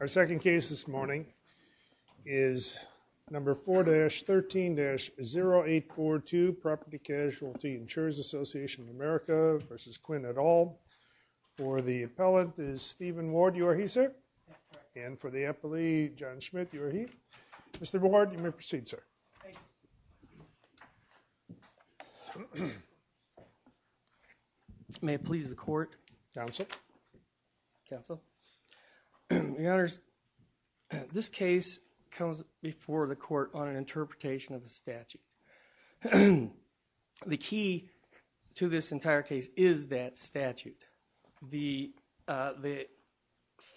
Our second case this morning is number 4-13-0842 Property Casualty Insurers Association of America versus Quinn et al For the appellant is Stephen Ward. You are he sir and for the appellee John Schmidt you are he. Mr. Ward you may proceed sir May it please the court. Council. Council. The honors This case comes before the court on an interpretation of the statute The key to this entire case is that statute the the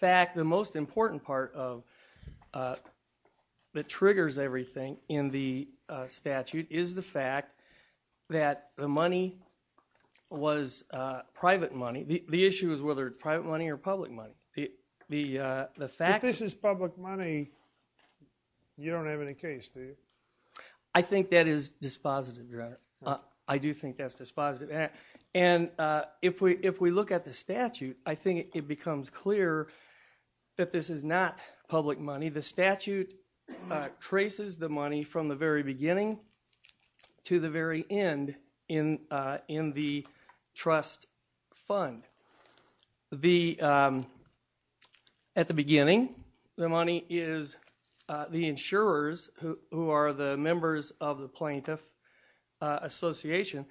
fact the most important part of That triggers everything in the statute is the fact that the money Was private money the issue is whether private money or public money the the the fact this is public money You don't have any case do you? I think that is dispositive your honor. I do think that's dispositive and If we if we look at the statute, I think it becomes clear That this is not public money the statute Traces the money from the very beginning to the very end in the trust fund the At the beginning the money is The insurers who are the members of the plaintiff? Association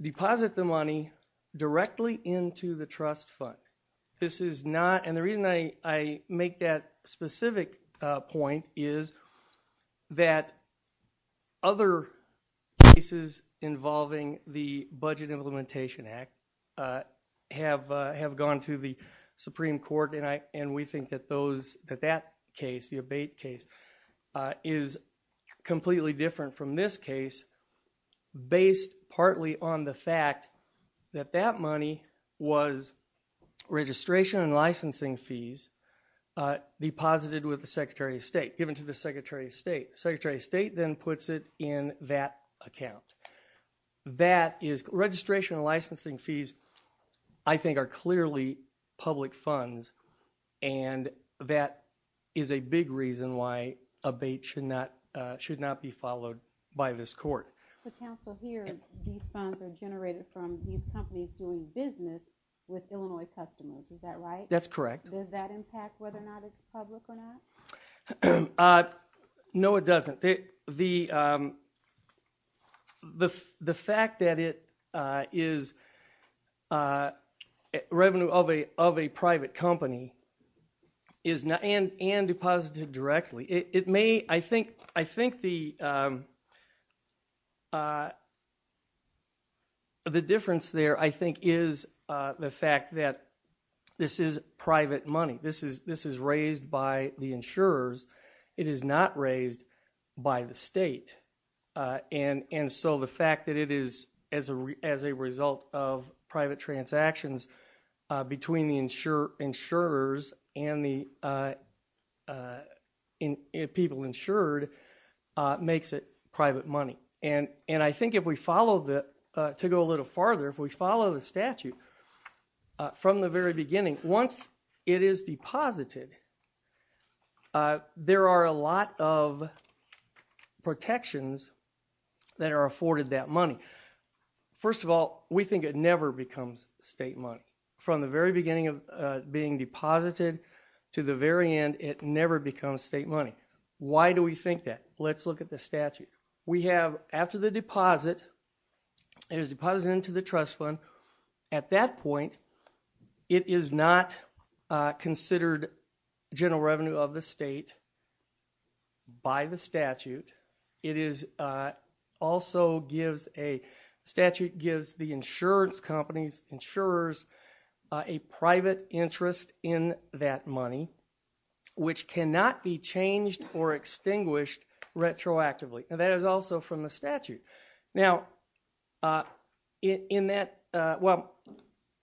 Deposit the money Directly into the trust fund. This is not and the reason I make that specific point is that other Cases involving the Budget Implementation Act Have have gone to the Supreme Court and I and we think that those that that case the abate case is completely different from this case based partly on the fact that that money was registration and licensing fees Deposited with the Secretary of State given to the Secretary of State Secretary of State then puts it in that account that is registration and licensing fees, I think are clearly public funds and That is a big reason why a bait should not should not be followed by this court Here No, it doesn't the The the fact that it is Revenue of a of a private company is not and and deposited directly it may I think I think the The Difference there I think is the fact that This is private money. This is this is raised by the insurers. It is not raised by the state And and so the fact that it is as a as a result of private transactions between the insurer insurers and the In people insured Makes it private money and and I think if we follow the to go a little farther if we follow the statute From the very beginning once it is deposited There are a lot of protections That are afforded that money First of all, we think it never becomes state money from the very beginning of being deposited To the very end it never becomes state money. Why do we think that let's look at the statute we have after the deposit It is deposited into the trust fund at that point It is not considered general revenue of the state by the statute it is also gives a statute gives the insurance companies insurers a Private interest in that money Which cannot be changed or extinguished Retroactively and that is also from the statute now In that well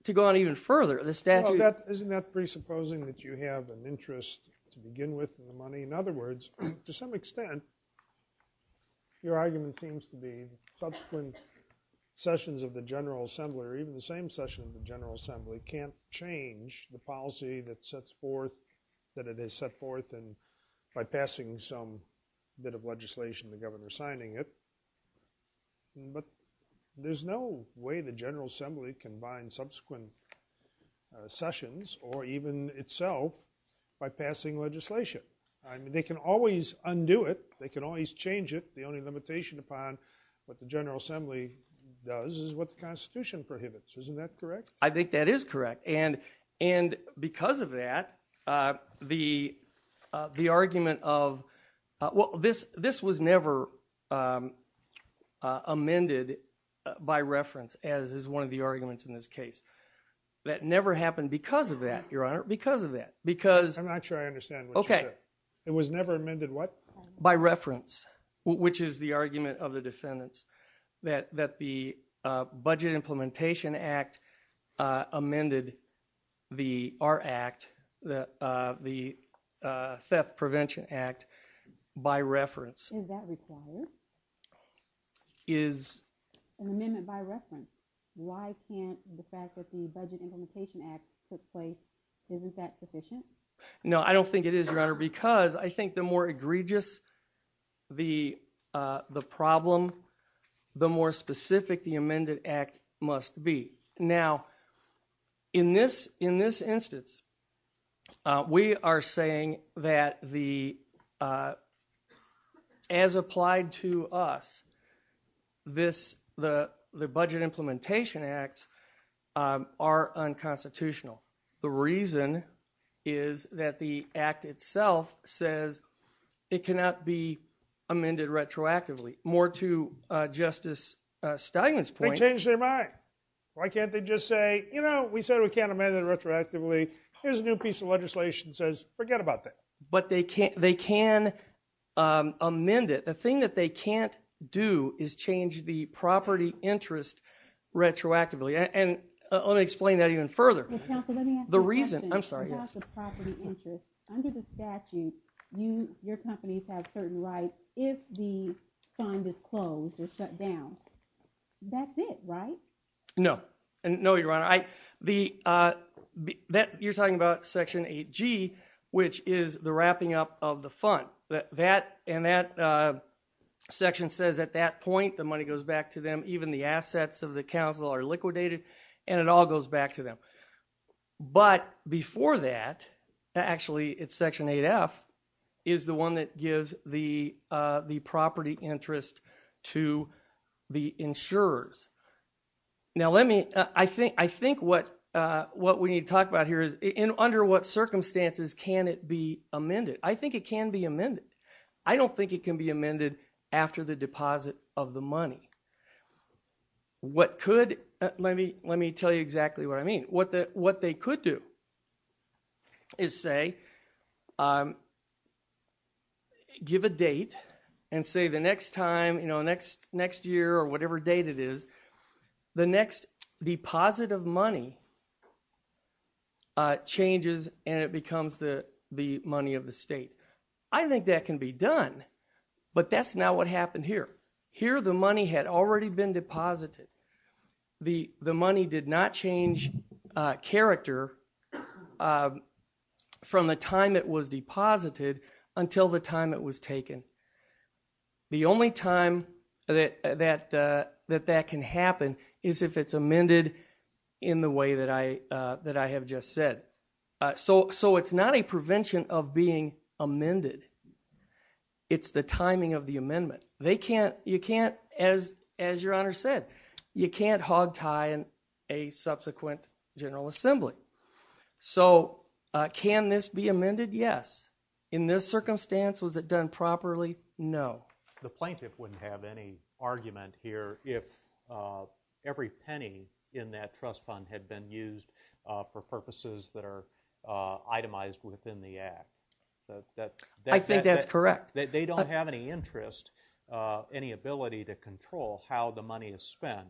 to go on even further the statute that isn't that presupposing that you have an interest To begin with the money in other words to some extent Your argument seems to be subsequent Sessions of the General Assembly or even the same session of the General Assembly can't change the policy that sets forth That it has set forth and by passing some bit of legislation the governor signing it But there's no way the General Assembly can bind subsequent Sessions or even itself by passing legislation. I mean they can always undo it They can always change it the only limitation upon what the General Assembly does is what the Constitution prohibits isn't that correct? I think that is correct and and because of that the the argument of Well this this was never Amended by reference as is one of the arguments in this case That never happened because of that your honor because of that because I'm not sure I understand Okay, it was never amended what by reference which is the argument of the defendants that that the Budget Implementation Act amended the our act that the theft Prevention Act by reference Is An amendment by reference why can't the fact that the budget implementation act took place isn't that sufficient? No, I don't think it is your honor because I think the more egregious the the problem The more specific the amended act must be now in this in this instance we are saying that the As applied to us This the the budget implementation acts are unconstitutional the reason is That the act itself says it cannot be amended retroactively more to Justice Steinman's point change their mind. Why can't they just say you know we said we can't amend it retroactively There's a new piece of legislation says forget about that, but they can't they can Amend it the thing that they can't do is change the property interest Retroactively and let me explain that even further The reason I'm sorry No and no your honor I the That you're talking about section 8g, which is the wrapping up of the fund that that and that Section says at that point the money goes back to them even the assets of the council are liquidated and it all goes back to them but before that Actually, it's section 8f is the one that gives the the property interest to the insurers Now let me I think I think what what we need to talk about here is in under what circumstances can it be amended I think it can be amended. I don't think it can be amended after the deposit of the money What could let me let me tell you exactly what I mean what that what they could do is say Give a date and say the next time you know next next year or whatever date it is the next deposit of money Changes and it becomes the the money of the state. I think that can be done But that's not what happened here here. The money had already been deposited The the money did not change character From the time it was deposited until the time it was taken The only time that that that that can happen is if it's amended in the way that I That I have just said So so it's not a prevention of being amended It's the timing of the amendment. They can't you can't as as your honor said you can't hogtie and a subsequent General Assembly so Can this be amended yes in this circumstance was it done properly No, the plaintiff wouldn't have any argument here if Every penny in that trust fund had been used for purposes that are itemized within the act That I think that's correct that they don't have any interest Any ability to control how the money is spent?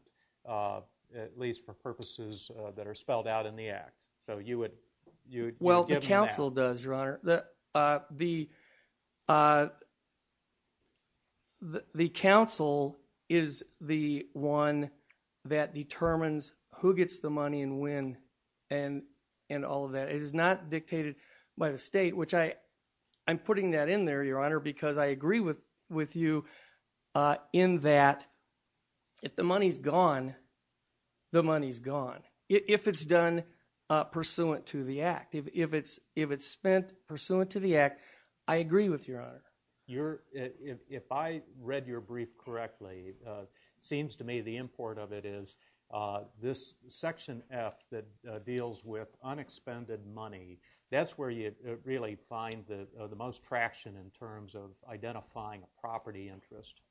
At least for purposes that are spelled out in the act, so you would you well the council does your honor that the The council is the one that determines who gets the money and when and And all of that is not dictated by the state which I I'm putting that in there your honor because I agree with with you in that If the money's gone The money's gone if it's done Pursuant to the act if it's if it's spent pursuant to the act. I agree with your honor You're if I read your brief correctly Seems to me the import of it is this section F that deals with Unexpended money, that's where you really find that the most traction in terms of identifying a property interest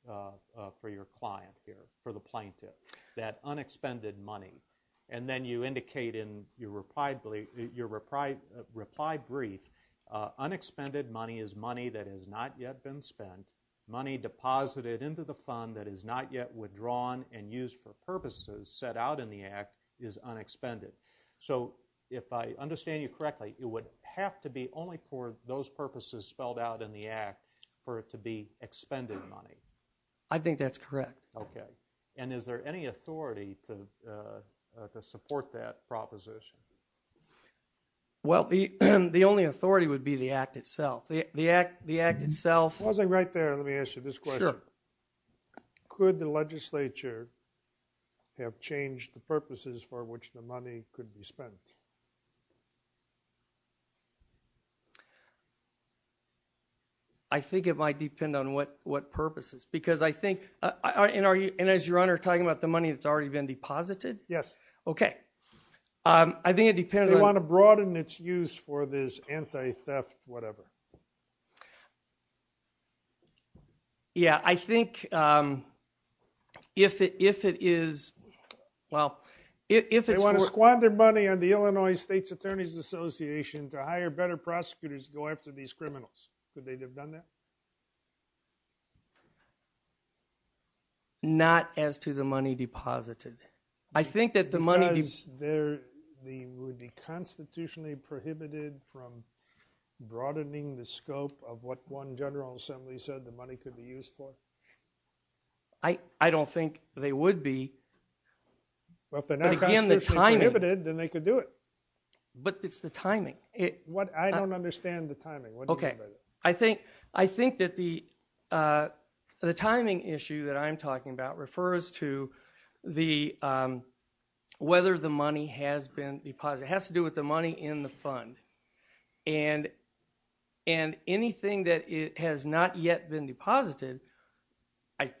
For your client here for the plaintiff that unexpended money And then you indicate in your reply believe your reply reply brief Unexpended money is money that has not yet been spent money Deposited into the fund that is not yet withdrawn and used for purposes set out in the act is unexpended So if I understand you correctly it would have to be only for those purposes spelled out in the act for it to be Unexpended money, I think that's correct. Okay, and is there any authority to to support that proposition Well, the the only authority would be the act itself the act the act itself wasn't right there let me ask you this question Could the legislature Have changed the purposes for which the money could be spent I Think it might depend on what what purposes because I think I And are you and as your honor talking about the money that's already been deposited? Yes. Okay I think it depends. I want to broaden its use for this anti-theft whatever Yeah, I think if it if it is Well, if they want to squander money on the Illinois State's Attorney's Association to hire better prosecutors go after these criminals Not as to the money deposited I think that the money is there the would be constitutionally prohibited from Broadening the scope of what one General Assembly said the money could be used for. I But again the time inhibited then they could do it But it's the timing it what I don't understand the timing. Okay, I think I think that the the timing issue that I'm talking about refers to the whether the money has been deposited has to do with the money in the fund and and Anything that it has not yet been deposited. I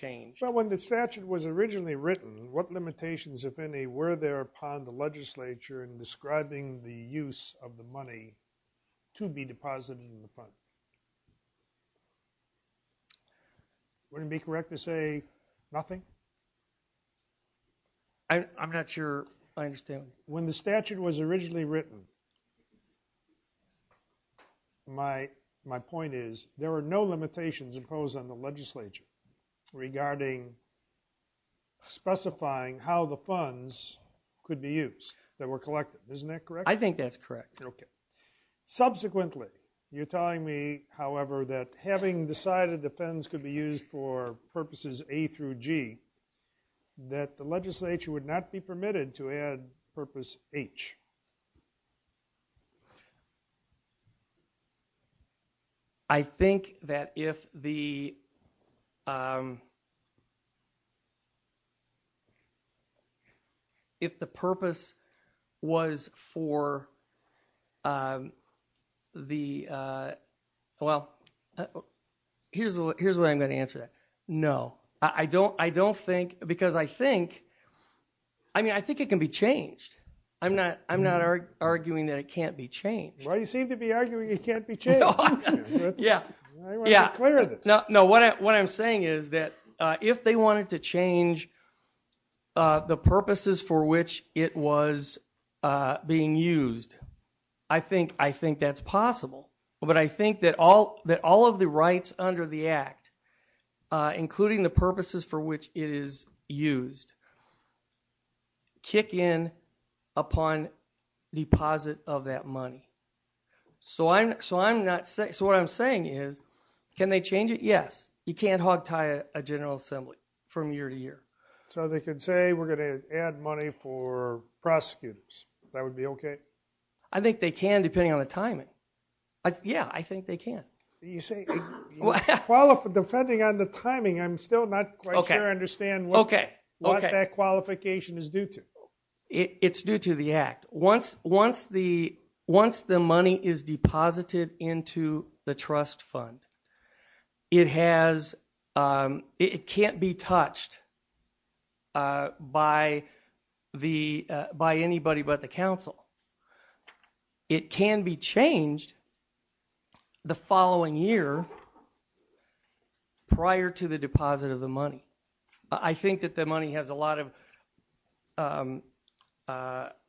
Change but when the statute was originally written what limitations if any were there upon the legislature and describing the use of the money to be deposited in the fund Wouldn't be correct to say nothing I'm not sure. I understand when the statute was originally written My my point is there are no limitations imposed on the legislature regarding Specifying how the funds could be used that were collected, isn't that correct? I think that's correct. Okay Subsequently you're telling me. However that having decided the funds could be used for purposes a through G That the legislature would not be permitted to add purpose H I think that if the If The purpose was for The well Here's what I'm going to answer that. No, I don't I don't think because I think I Mean, I think it can be changed. I'm not I'm not arguing that it can't be changed. Well, you seem to be arguing It can't be changed Yeah, yeah, no, no what what I'm saying is that if they wanted to change the purposes for which it was Being used. I think I think that's possible. But I think that all that all of the rights under the act Including the purposes for which it is used Kick in upon deposit of that money So I'm so I'm not saying so what I'm saying is can they change it? Yes, you can't hogtie a General Assembly from year to year so they could say we're gonna add money for Prosecutors, that would be okay. I think they can depending on the timing. Yeah, I think they can you say Well for defending on the timing. I'm still not okay understand. Okay. Okay that qualification is due to It's due to the act once once the once the money is deposited into the trust fund it has It can't be touched By the by anybody but the council It can be changed the following year Prior to the deposit of the money. I think that the money has a lot of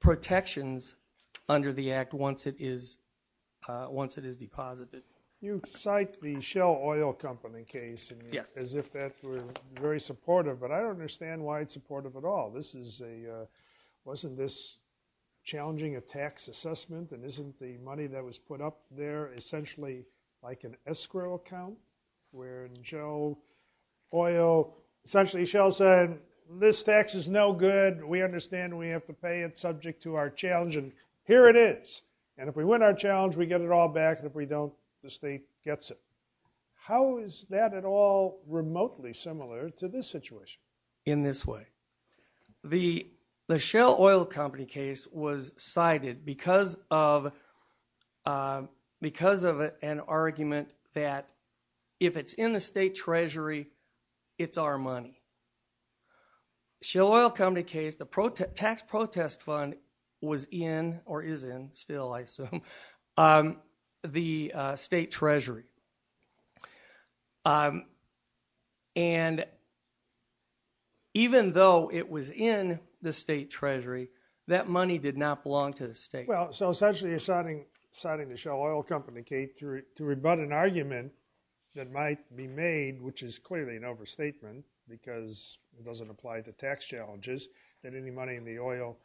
Protections Under the act once it is Once it is deposited you cite the shell oil company case Yeah, as if that were very supportive, but I don't understand why it's supportive at all. This is a wasn't this Challenging a tax assessment and isn't the money that was put up there essentially like an escrow account where Joe Oil Essentially shell said this tax is no good We understand we have to pay it subject to our challenge and here it is And if we win our challenge we get it all back if we don't the state gets it How is that at all remotely similar to this situation in this way? the the shell oil company case was cited because of Because of an argument that if it's in the state Treasury, it's our money Shell oil company case the protect tax protest fund was in or is in still I assume the state Treasury And Even though it was in the state Treasury that money did not belong to the state Well, so essentially assigning citing the shell oil company Kate to rebut an argument that might be made Which is clearly an overstatement because it doesn't apply to tax challenges that any money in the oil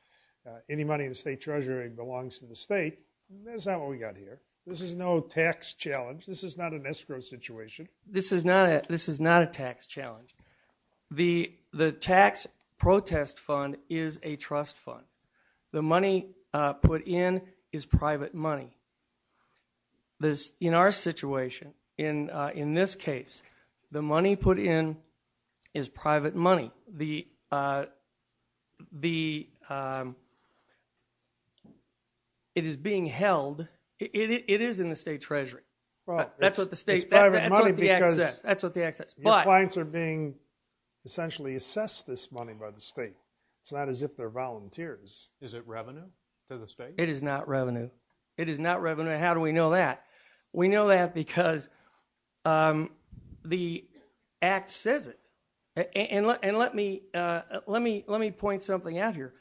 Any money in the state Treasury belongs to the state? That's not what we got here. This is no tax challenge This is not an escrow situation. This is not this is not a tax challenge The the tax protest fund is a trust fund the money Put in is private money This in our situation in in this case the money put in is private money the The It is being held it is in the state Treasury, well, that's what the state That's what the access my clients are being Essentially assess this money by the state. It's not as if they're volunteers. Is it revenue to the state? It is not revenue. It is not revenue. How do we know that? We know that because The Act says it and let and let me let me let me point something out here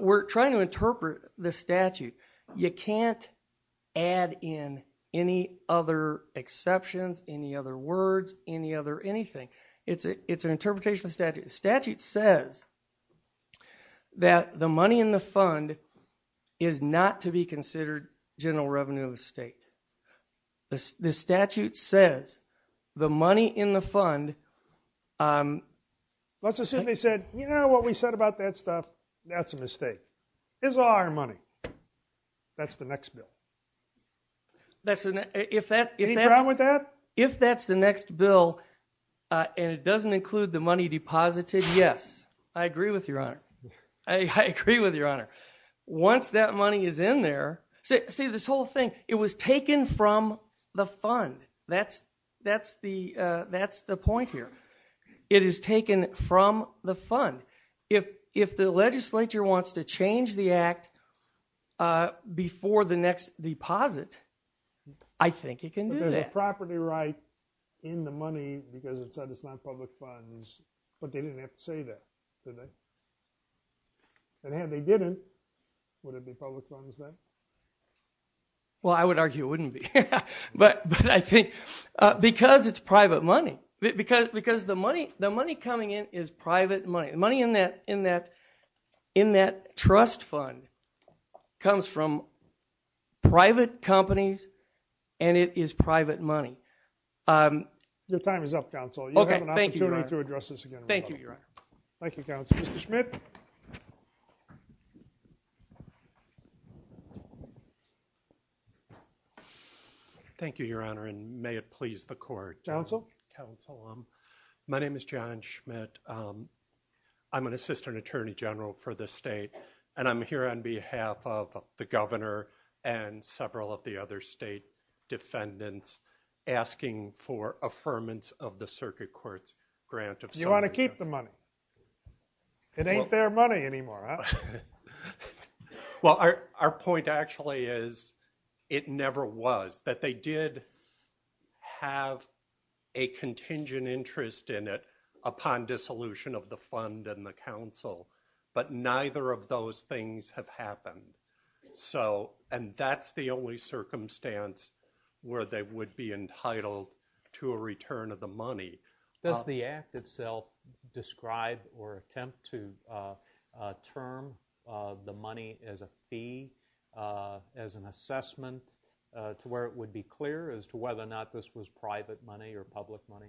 We're trying to interpret the statute. You can't add in any other Exceptions any other words any other anything? It's a it's an interpretation of statute statute says That the money in the fund is not to be considered general revenue of the state The statute says the money in the fund Let's assume they said, you know what we said about that stuff that's a mistake is our money That's the next bill That's an effect if they're out with that if that's the next bill And it doesn't include the money deposited. Yes. I agree with your honor. I Agree with your honor once that money is in there. See this whole thing. It was taken from the fund That's that's the that's the point here It is taken from the fund if if the legislature wants to change the act Before the next deposit, I Think it can do that property right in the money because it said it's not public funds, but they didn't have to say that And had they didn't Well, I would argue it wouldn't be but but I think Because it's private money because because the money the money coming in is private money money in that in that in that trust fund comes from Private companies and it is private money Your time is up counsel. Okay. Thank you to address this again. Thank you. You're on Thank You counts. Mr. Schmidt Thank you, your honor and may it please the court council council, um, my name is John Schmidt I'm an assistant attorney general for the state and I'm here on behalf of the governor and several of the other state defendants Asking for affirmance of the circuit courts grant if you want to keep the money It ain't their money anymore Well, our point actually is it never was that they did have a Resolution of the fund and the council but neither of those things have happened So and that's the only circumstance Where they would be entitled to a return of the money does the act itself? describe or attempt to term the money as a fee as an assessment To where it would be clear as to whether or not this was private money or public money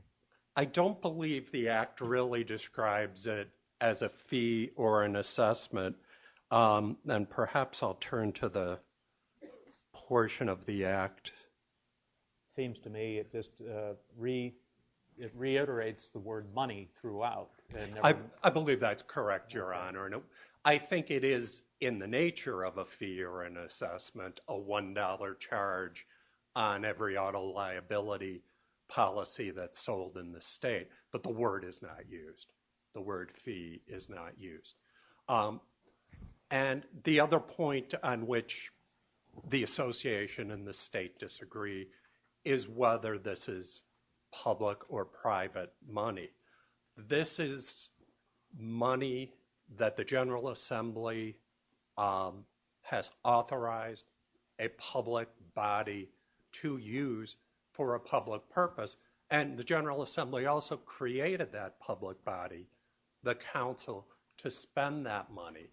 I don't believe the act really describes it as a fee or an assessment then perhaps I'll turn to the portion of the act seems to me it just Read it reiterates the word money throughout. I believe that's correct. Your honor No, I think it is in the nature of a fee or an assessment a one-dollar charge on every auto liability Policy that's sold in the state, but the word is not used the word fee is not used and the other point on which the Association and the state disagree is Whether this is public or private money this is money that the General Assembly Has authorized a public body to use For a public purpose and the General Assembly also created that public body the council to spend that money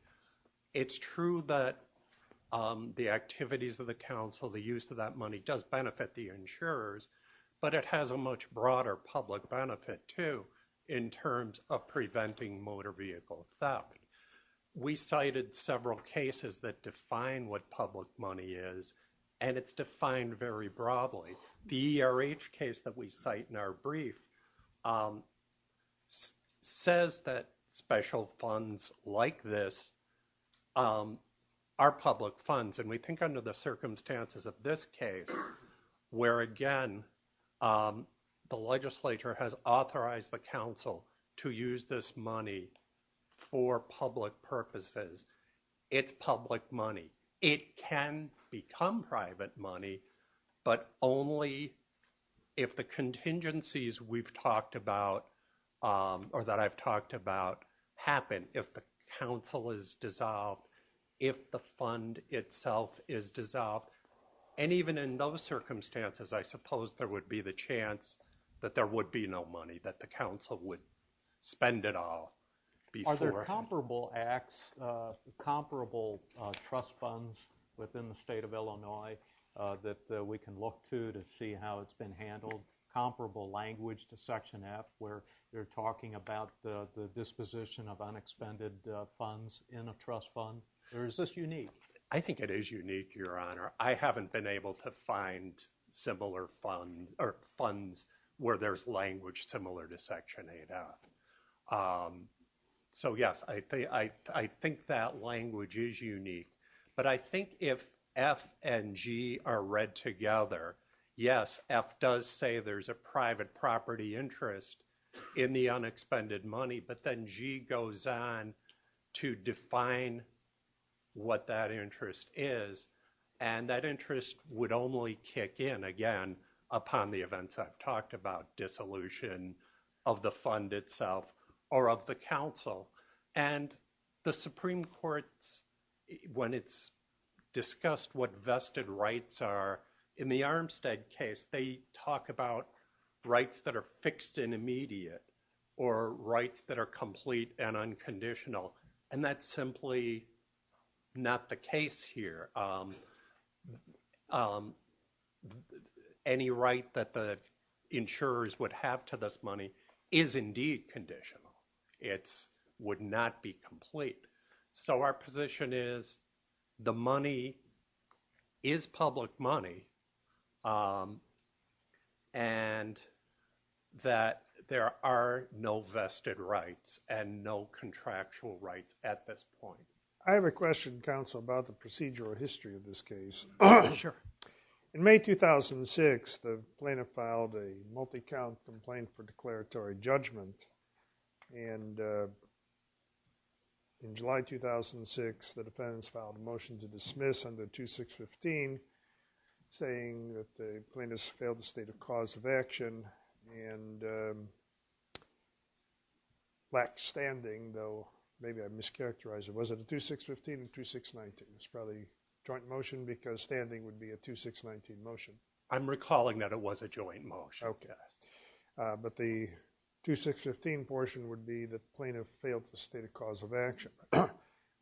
it's true that The activities of the council the use of that money does benefit the insurers But it has a much broader public benefit to in terms of preventing motor vehicle theft We cited several cases that define what public money is and it's defined very broadly The ERH case that we cite in our brief Says that special funds like this Are public funds and we think under the circumstances of this case where again The legislature has authorized the council to use this money For public purposes It's public money. It can become private money but only if the contingencies we've talked about or that I've talked about happen if the council is dissolved if the fund itself is dissolved and Even in those circumstances, I suppose there would be the chance that there would be no money that the council would Spend it all Are there comparable acts? Comparable trust funds within the state of Illinois That we can look to to see how it's been handled Comparable language to section F where they're talking about the disposition of unexpended funds in a trust fund There is this unique. I think it is unique your honor. I haven't been able to find Similar funds or funds where there's language similar to section 8 out So, yes, I think I think that language is unique But I think if F and G are read together Yes F does say there's a private property interest in the unexpended money, but then G goes on to define What that interest is and that interest would only kick in again upon the events I've talked about dissolution of the fund itself or of the council and the Supreme Court's when it's Discussed what vested rights are in the Armstead case. They talk about rights that are fixed in immediate or Rights that are complete and unconditional and that's simply Not the case here Any Right that the Insurers would have to this money is indeed conditional. It's would not be complete so our position is the money is public money And That there are no vested rights and no Contractual rights at this point. I have a question counsel about the procedural history of this case. Sure in May 2006 the plaintiff filed a multi-count complaint for declaratory judgment and In July 2006 the defendants filed a motion to dismiss under 2 6 15 saying that the plaintiffs failed the state of cause of action and Lack standing though, maybe I mischaracterized it. Was it a 2 6 15 and 2 6 19? It's probably joint motion because standing would be a 2 6 19 motion. I'm recalling that it was a joint motion. Okay but the 2 6 15 portion would be that plaintiff failed to state a cause of action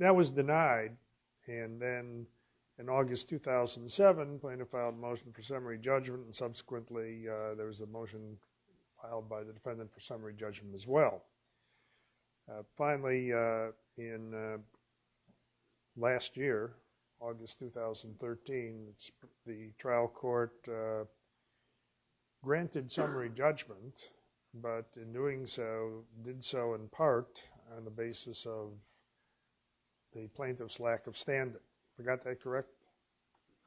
That was denied and then in August 2007 plaintiff filed motion for summary judgment and subsequently There was a motion filed by the defendant for summary judgment as well Finally in Last year August 2013 the trial court Granted summary judgment, but in doing so did so in part on the basis of The plaintiff's lack of standard. We got that, correct?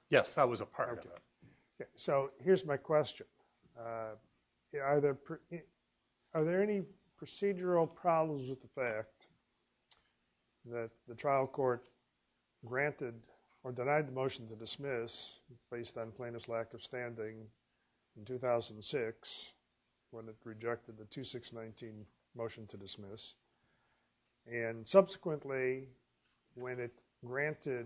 Yes, that was a part of it. Okay, so here's my question Yeah, are there are there any procedural problems with the fact that the trial court Granted or denied the motion to dismiss based on plaintiff's lack of standing in 2006 when it rejected the 2 6 19 motion to dismiss and subsequently When it granted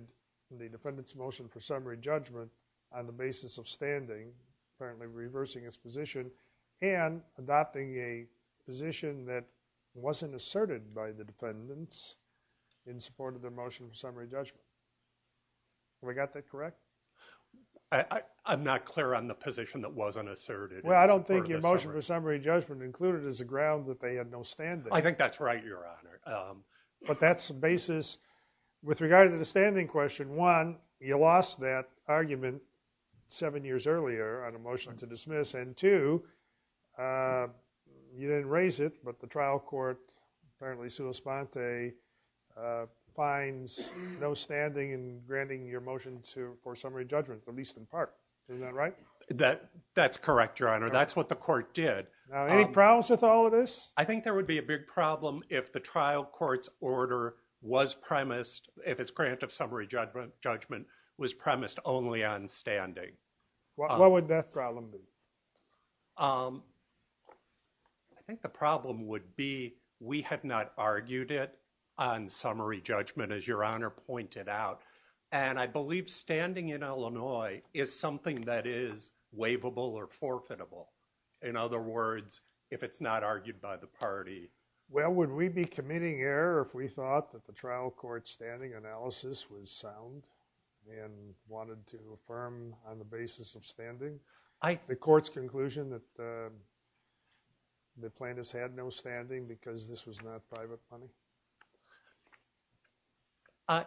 the defendant's motion for summary judgment on the basis of standing apparently reversing its position and adopting a Position that wasn't asserted by the defendants in support of their motion for summary judgment We got that, correct? I'm not clear on the position that wasn't asserted Well, I don't think your motion for summary judgment included as a ground that they had no stand. I think that's right your honor But that's the basis With regard to the standing question one you lost that argument seven years earlier on a motion to dismiss and two You didn't raise it, but the trial court apparently sudo sponte Finds no standing and granting your motion to for summary judgment the least in part. Is that right? That that's correct your honor. That's what the court did any problems with all of this I think there would be a big problem if the trial courts order was Premised if it's grant of summary judgment judgment was premised only on standing What would that problem be? I Think the problem would be we had not argued it on Summary judgment as your honor pointed out and I believe standing in, Illinois is something that is Wavable or forfeitable in other words if it's not argued by the party Well, would we be committing error if we thought that the trial court standing analysis was sound? And wanted to affirm on the basis of standing. I the court's conclusion that The plaintiffs had no standing because this was not private money I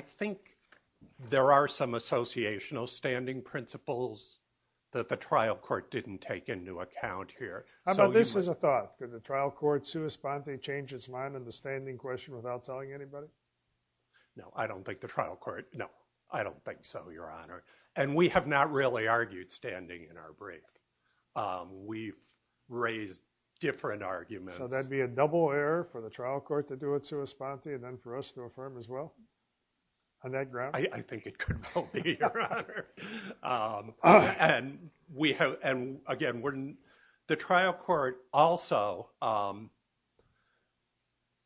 Think There are some associational standing principles That the trial court didn't take into account here So this is a thought that the trial court sue esponte change its mind and the standing question without telling anybody No, I don't think the trial court. No, I don't think so. Your honor and we have not really argued standing in our brief We've raised Different arguments, so that'd be a double error for the trial court to do it sue esponte and then for us to affirm as well On that ground. I think it could And we have and again wouldn't the trial court also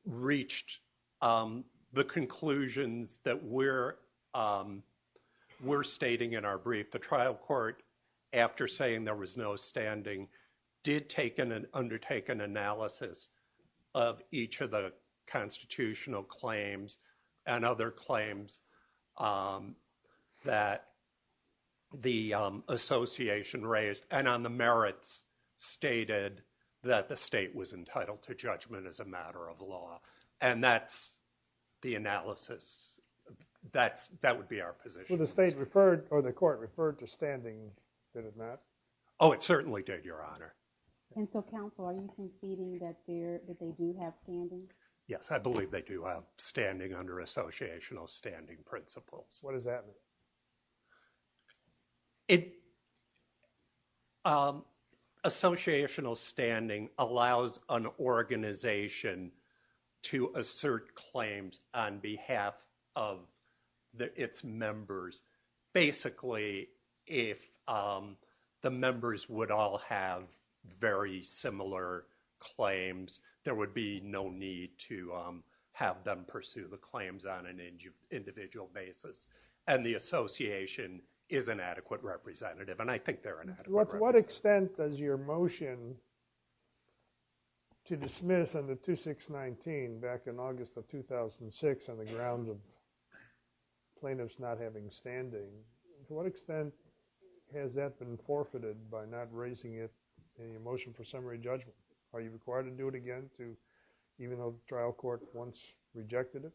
Reached the conclusions that we're We're stating in our brief the trial court After saying there was no standing did taken and undertaken analysis of each of the constitutional claims and other claims That the Association raised and on the merits Stated that the state was entitled to judgment as a matter of law, and that's the analysis That's that would be our position the state referred or the court referred to standing did it not oh it certainly did your honor Yes, I believe they do have standing under associational standing principles, what does that mean It Associational standing allows an organization to Assert claims on behalf of the its members basically if The members would all have very similar Claims there would be no need to have them pursue the claims on an individual basis and the association Is an adequate representative, and I think they're in what extent does your motion? To dismiss on the 2619 back in August of 2006 on the ground of plaintiffs not having standing to what extent Has that been forfeited by not raising it in your motion for summary judgment? Are you required to do it again to even though the trial court once rejected it?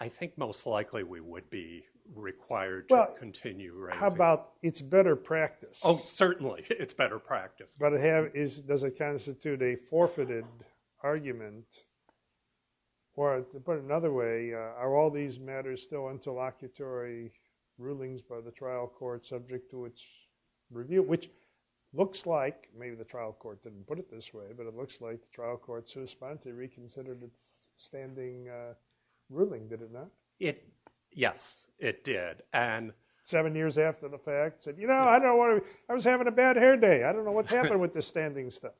I Think most likely we would be required to continue right about it's better practice Oh, certainly, it's better practice, but it have is does it constitute a forfeited? argument For to put it another way are all these matters still interlocutory rulings by the trial court subject to its Review which looks like maybe the trial court didn't put it this way, but it looks like the trial court's respond to reconsidered. It's standing Ruling did it not it? Yes, it did and seven years after the fact said, you know I don't want to I was having a bad hair day. I don't know what happened with the standing stuff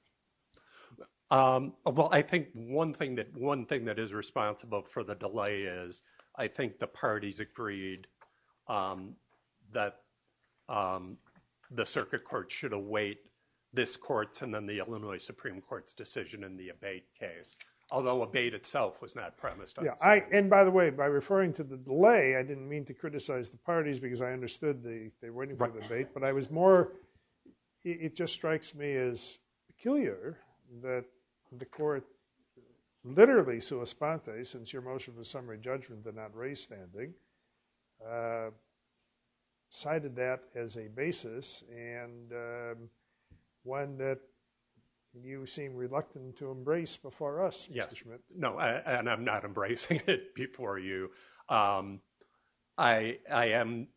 Well, I think one thing that one thing that is responsible for the delay is I think the parties agreed That The circuit court should await this courts and then the Illinois Supreme Court's decision in the abate case Although abate itself was not premised Yeah, I and by the way by referring to the delay I didn't mean to criticize the parties because I understood the they weren't right, but I was more It just strikes me as peculiar that the court Literally, so a spot day since your motion for summary judgment did not raise standing I Decided that as a basis and One that You seem reluctant to embrace before us. Yes. No, and I'm not embracing it before you. I am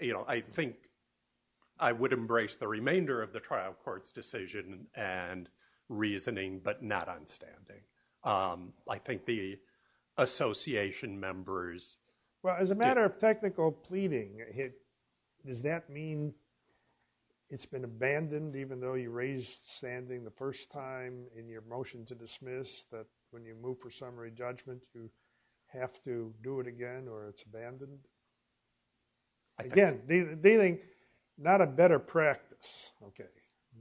you know, I think I would embrace the remainder of the trial courts decision and reasoning but not on standing I think the Association members well as a matter of technical pleading it does that mean It's been abandoned even though you raised standing the first time in your motion to dismiss that when you move for summary judgment You have to do it again, or it's abandoned Again dealing not a better practice. Okay,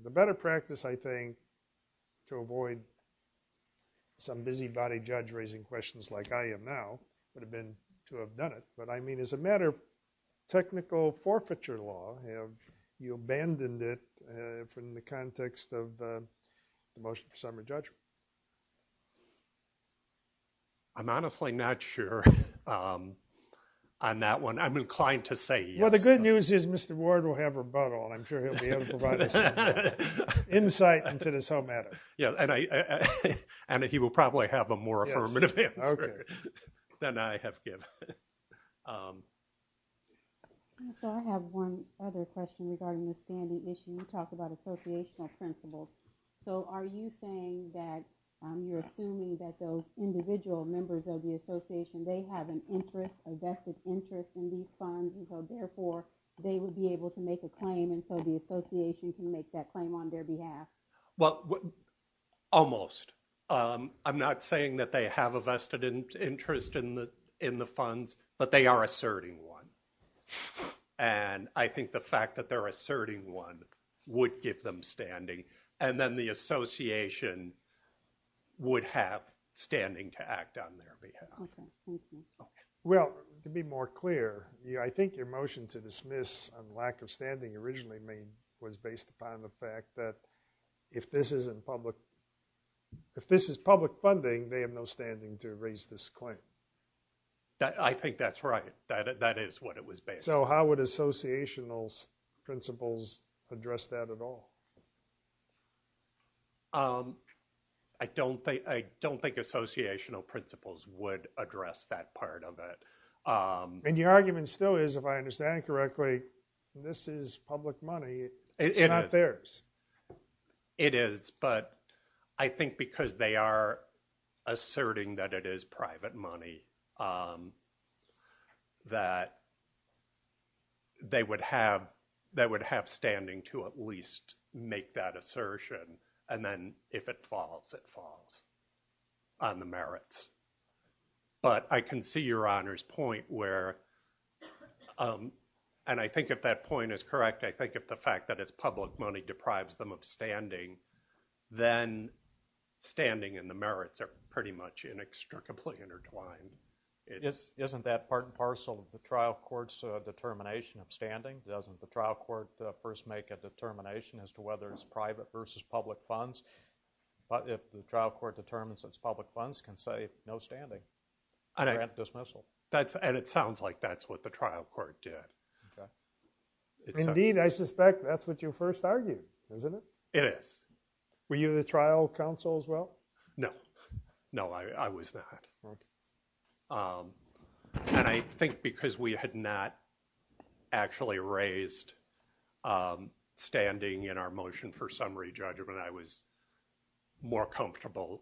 the better practice I think to avoid Some busybody judge raising questions like I am now would have been to have done it, but I mean as a matter Technical forfeiture law have you abandoned it from the context of the motion for summary judgment? I'm honestly not sure I'm that one. I'm inclined to say well, the good news is mr. Ward will have her but all I'm sure He'll be able to provide Insight into this whole matter. Yeah, and I and that he will probably have a more affirmative Then I have So are you saying that You're assuming that those individual members of the Association. They have an interest a vested interest in these funds Therefore they would be able to make a claim and so the Association can make that claim on their behalf. Well Almost I'm not saying that they have a vested interest in the in the funds, but they are asserting one And I think the fact that they're asserting one would give them standing and then the Association Would have standing to act on their behalf Well to be more clear Yeah I think your motion to dismiss a lack of standing originally made was based upon the fact that if this isn't public If this is public funding they have no standing to raise this claim That I think that's right. That is what it was based. So how would associational? principles address that at all I Don't think I don't think associational principles would address that part of it And your argument still is if I understand correctly This is public money. It's not theirs It is but I think because they are Asserting that it is private money That They would have that would have standing to at least make that assertion and then if it falls it falls on the merits but I can see your honor's point where And I think if that point is correct, I think if the fact that it's public money deprives them of standing then Standing and the merits are pretty much inextricably intertwined It isn't that part and parcel of the trial courts determination of standing doesn't the trial court first make a determination As to whether it's private versus public funds But if the trial court determines it's public funds can say no standing I don't have dismissal that's and it sounds like that's what the trial court did Indeed I suspect that's what you first argued isn't it? Yes. Were you the trial counsel as well? No No, I was not And I think because we had not actually raised Standing in our motion for summary judgment. I was more comfortable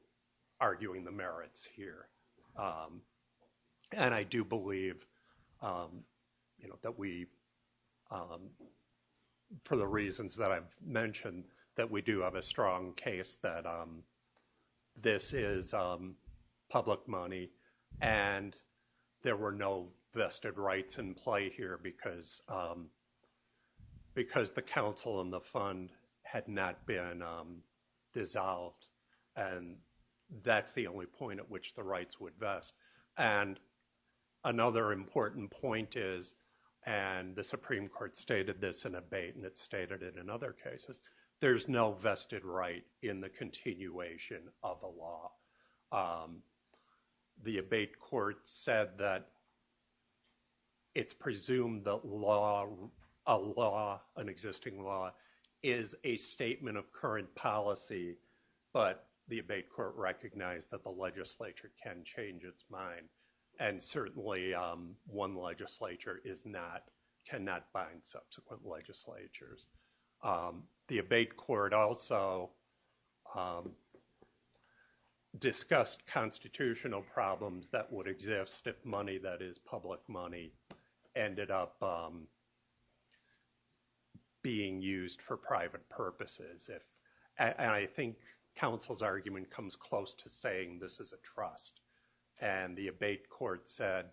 Arguing the merits here And I do believe You know that we For the reasons that I've mentioned that we do have a strong case that this is public money and there were no vested rights in play here because Because the council and the fund had not been dissolved and that's the only point at which the rights would vest and Another important point is and the Supreme Court stated this in a bait and it stated it in other cases There's no vested right in the continuation of the law The abate court said that It's presumed that law a law an existing law is a statement of current policy, but the abate court recognized that the legislature can change its mind and Certainly one legislature is not cannot find subsequent legislatures the abate court also Discussed constitutional problems that would exist if money that is public money ended up Being used for private purposes if and I think Council's argument comes close to saying this is a trust and the abate court said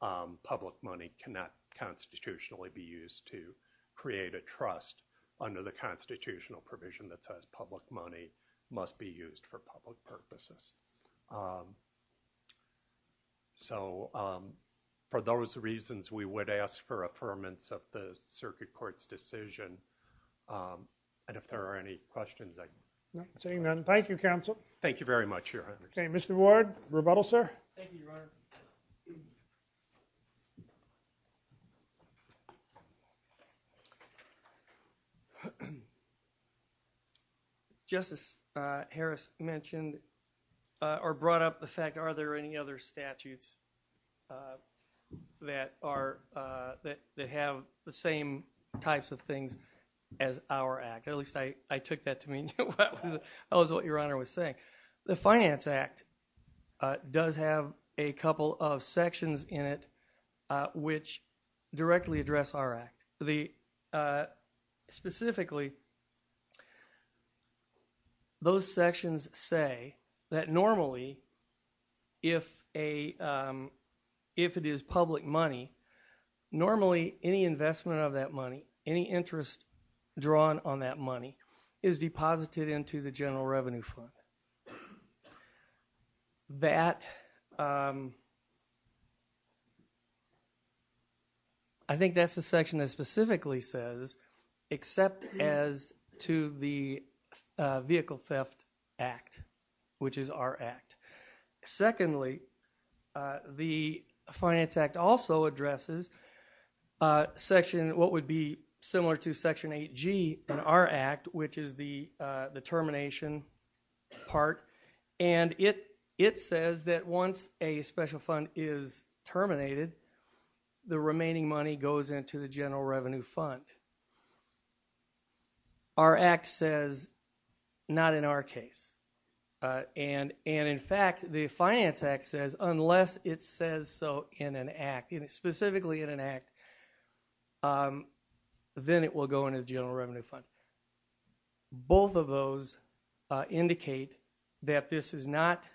public money cannot Constitutionally be used to create a trust under the constitutional provision that says public money must be used for public purposes So For those reasons we would ask for affirmance of the circuit courts decision And if there are any questions, I'm saying then. Thank you counsel. Thank you very much here. Okay, mr. Ward rebuttal, sir Justice Harris mentioned or brought up the fact. Are there any other statutes? That are That they have the same types of things as our act at least I I took that to mean Yeah, I was what your honor was saying the Finance Act Does have a couple of sections in it? which directly address our act the Specifically Those sections say that normally if a If it is public money Normally any investment of that money any interest drawn on that money is deposited into the general revenue fund That I Think that's the section that specifically says except as to the vehicle theft act Which is our act? secondly The Finance Act also addresses Section what would be similar to section 8g and our act which is the the termination? Part and it it says that once a special fund is terminated The remaining money goes into the general revenue fund Our act says Not in our case And and in fact the Finance Act says unless it says so in an act and it's specifically in an act Then it will go into the general revenue fund both of those Indicate that this is not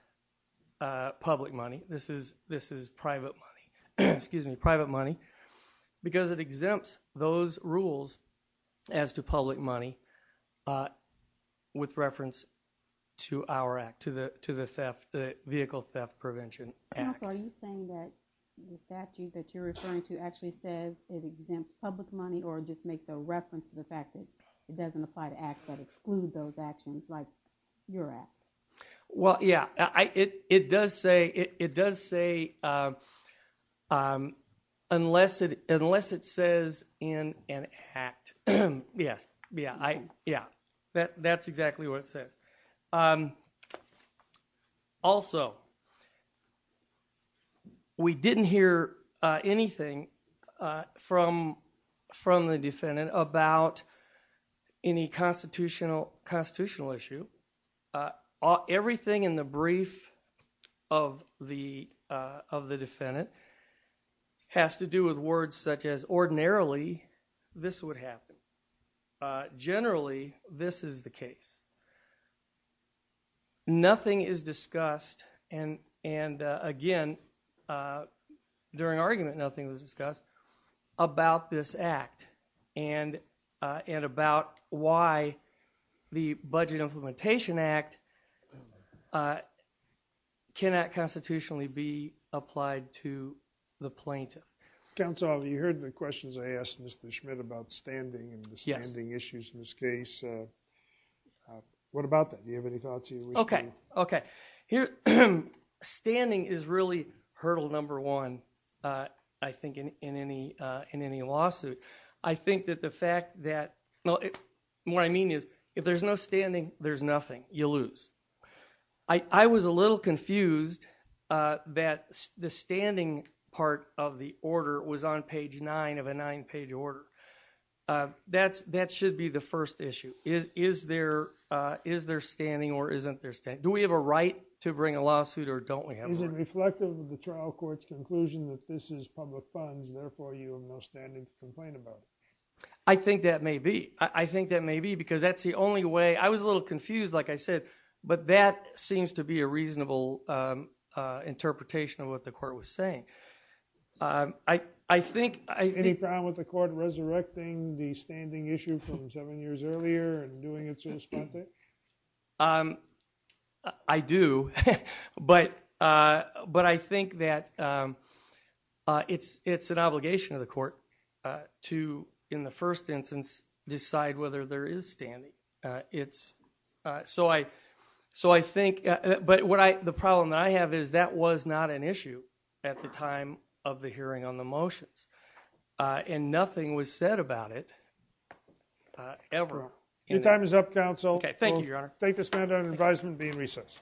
Public money. This is this is private money. Excuse me private money Because it exempts those rules as to public money With reference to our act to the to the theft the vehicle theft prevention Well, yeah, I it it does say it does say Unless it unless it says in an act Yes, yeah, I yeah that that's exactly what it says Also We didn't hear anything from from the defendant about any constitutional constitutional issue everything in the brief of the of the defendant Has to do with words such as ordinarily this would happen generally this is the case Nothing is discussed and and again During argument nothing was discussed about this act and and about why the Budget Implementation Act I Cannot constitutionally be applied to the plaintiff counsel. You heard the questions. I asked mr. Schmidt about standing Yes, the issues in this case What about that you have any thoughts you okay, okay here Standing is really hurdle number one. I think in any in any lawsuit I think that the fact that no what I mean is if there's no standing there's nothing you lose I was a little confused That the standing part of the order was on page nine of a nine-page order That's that should be the first issue is is there is there standing or isn't there state? Do we have a right to bring a lawsuit or don't we have reflective of the trial courts conclusion that this is public funds? Therefore you are most standing complain about I think that may be I think that may be because that's the only way I was a But that seems to be a reasonable Interpretation of what the court was saying I I think I any problem with the court resurrecting the standing issue from seven years earlier and doing it I do but but I think that It's it's an obligation of the court To in the first instance decide whether there is standing. It's So I so I think but what I the problem that I have is that was not an issue at the time of the hearing on the motions And nothing was said about it Ever your time is up counsel. Okay. Thank you your honor take this man down advisement be in recess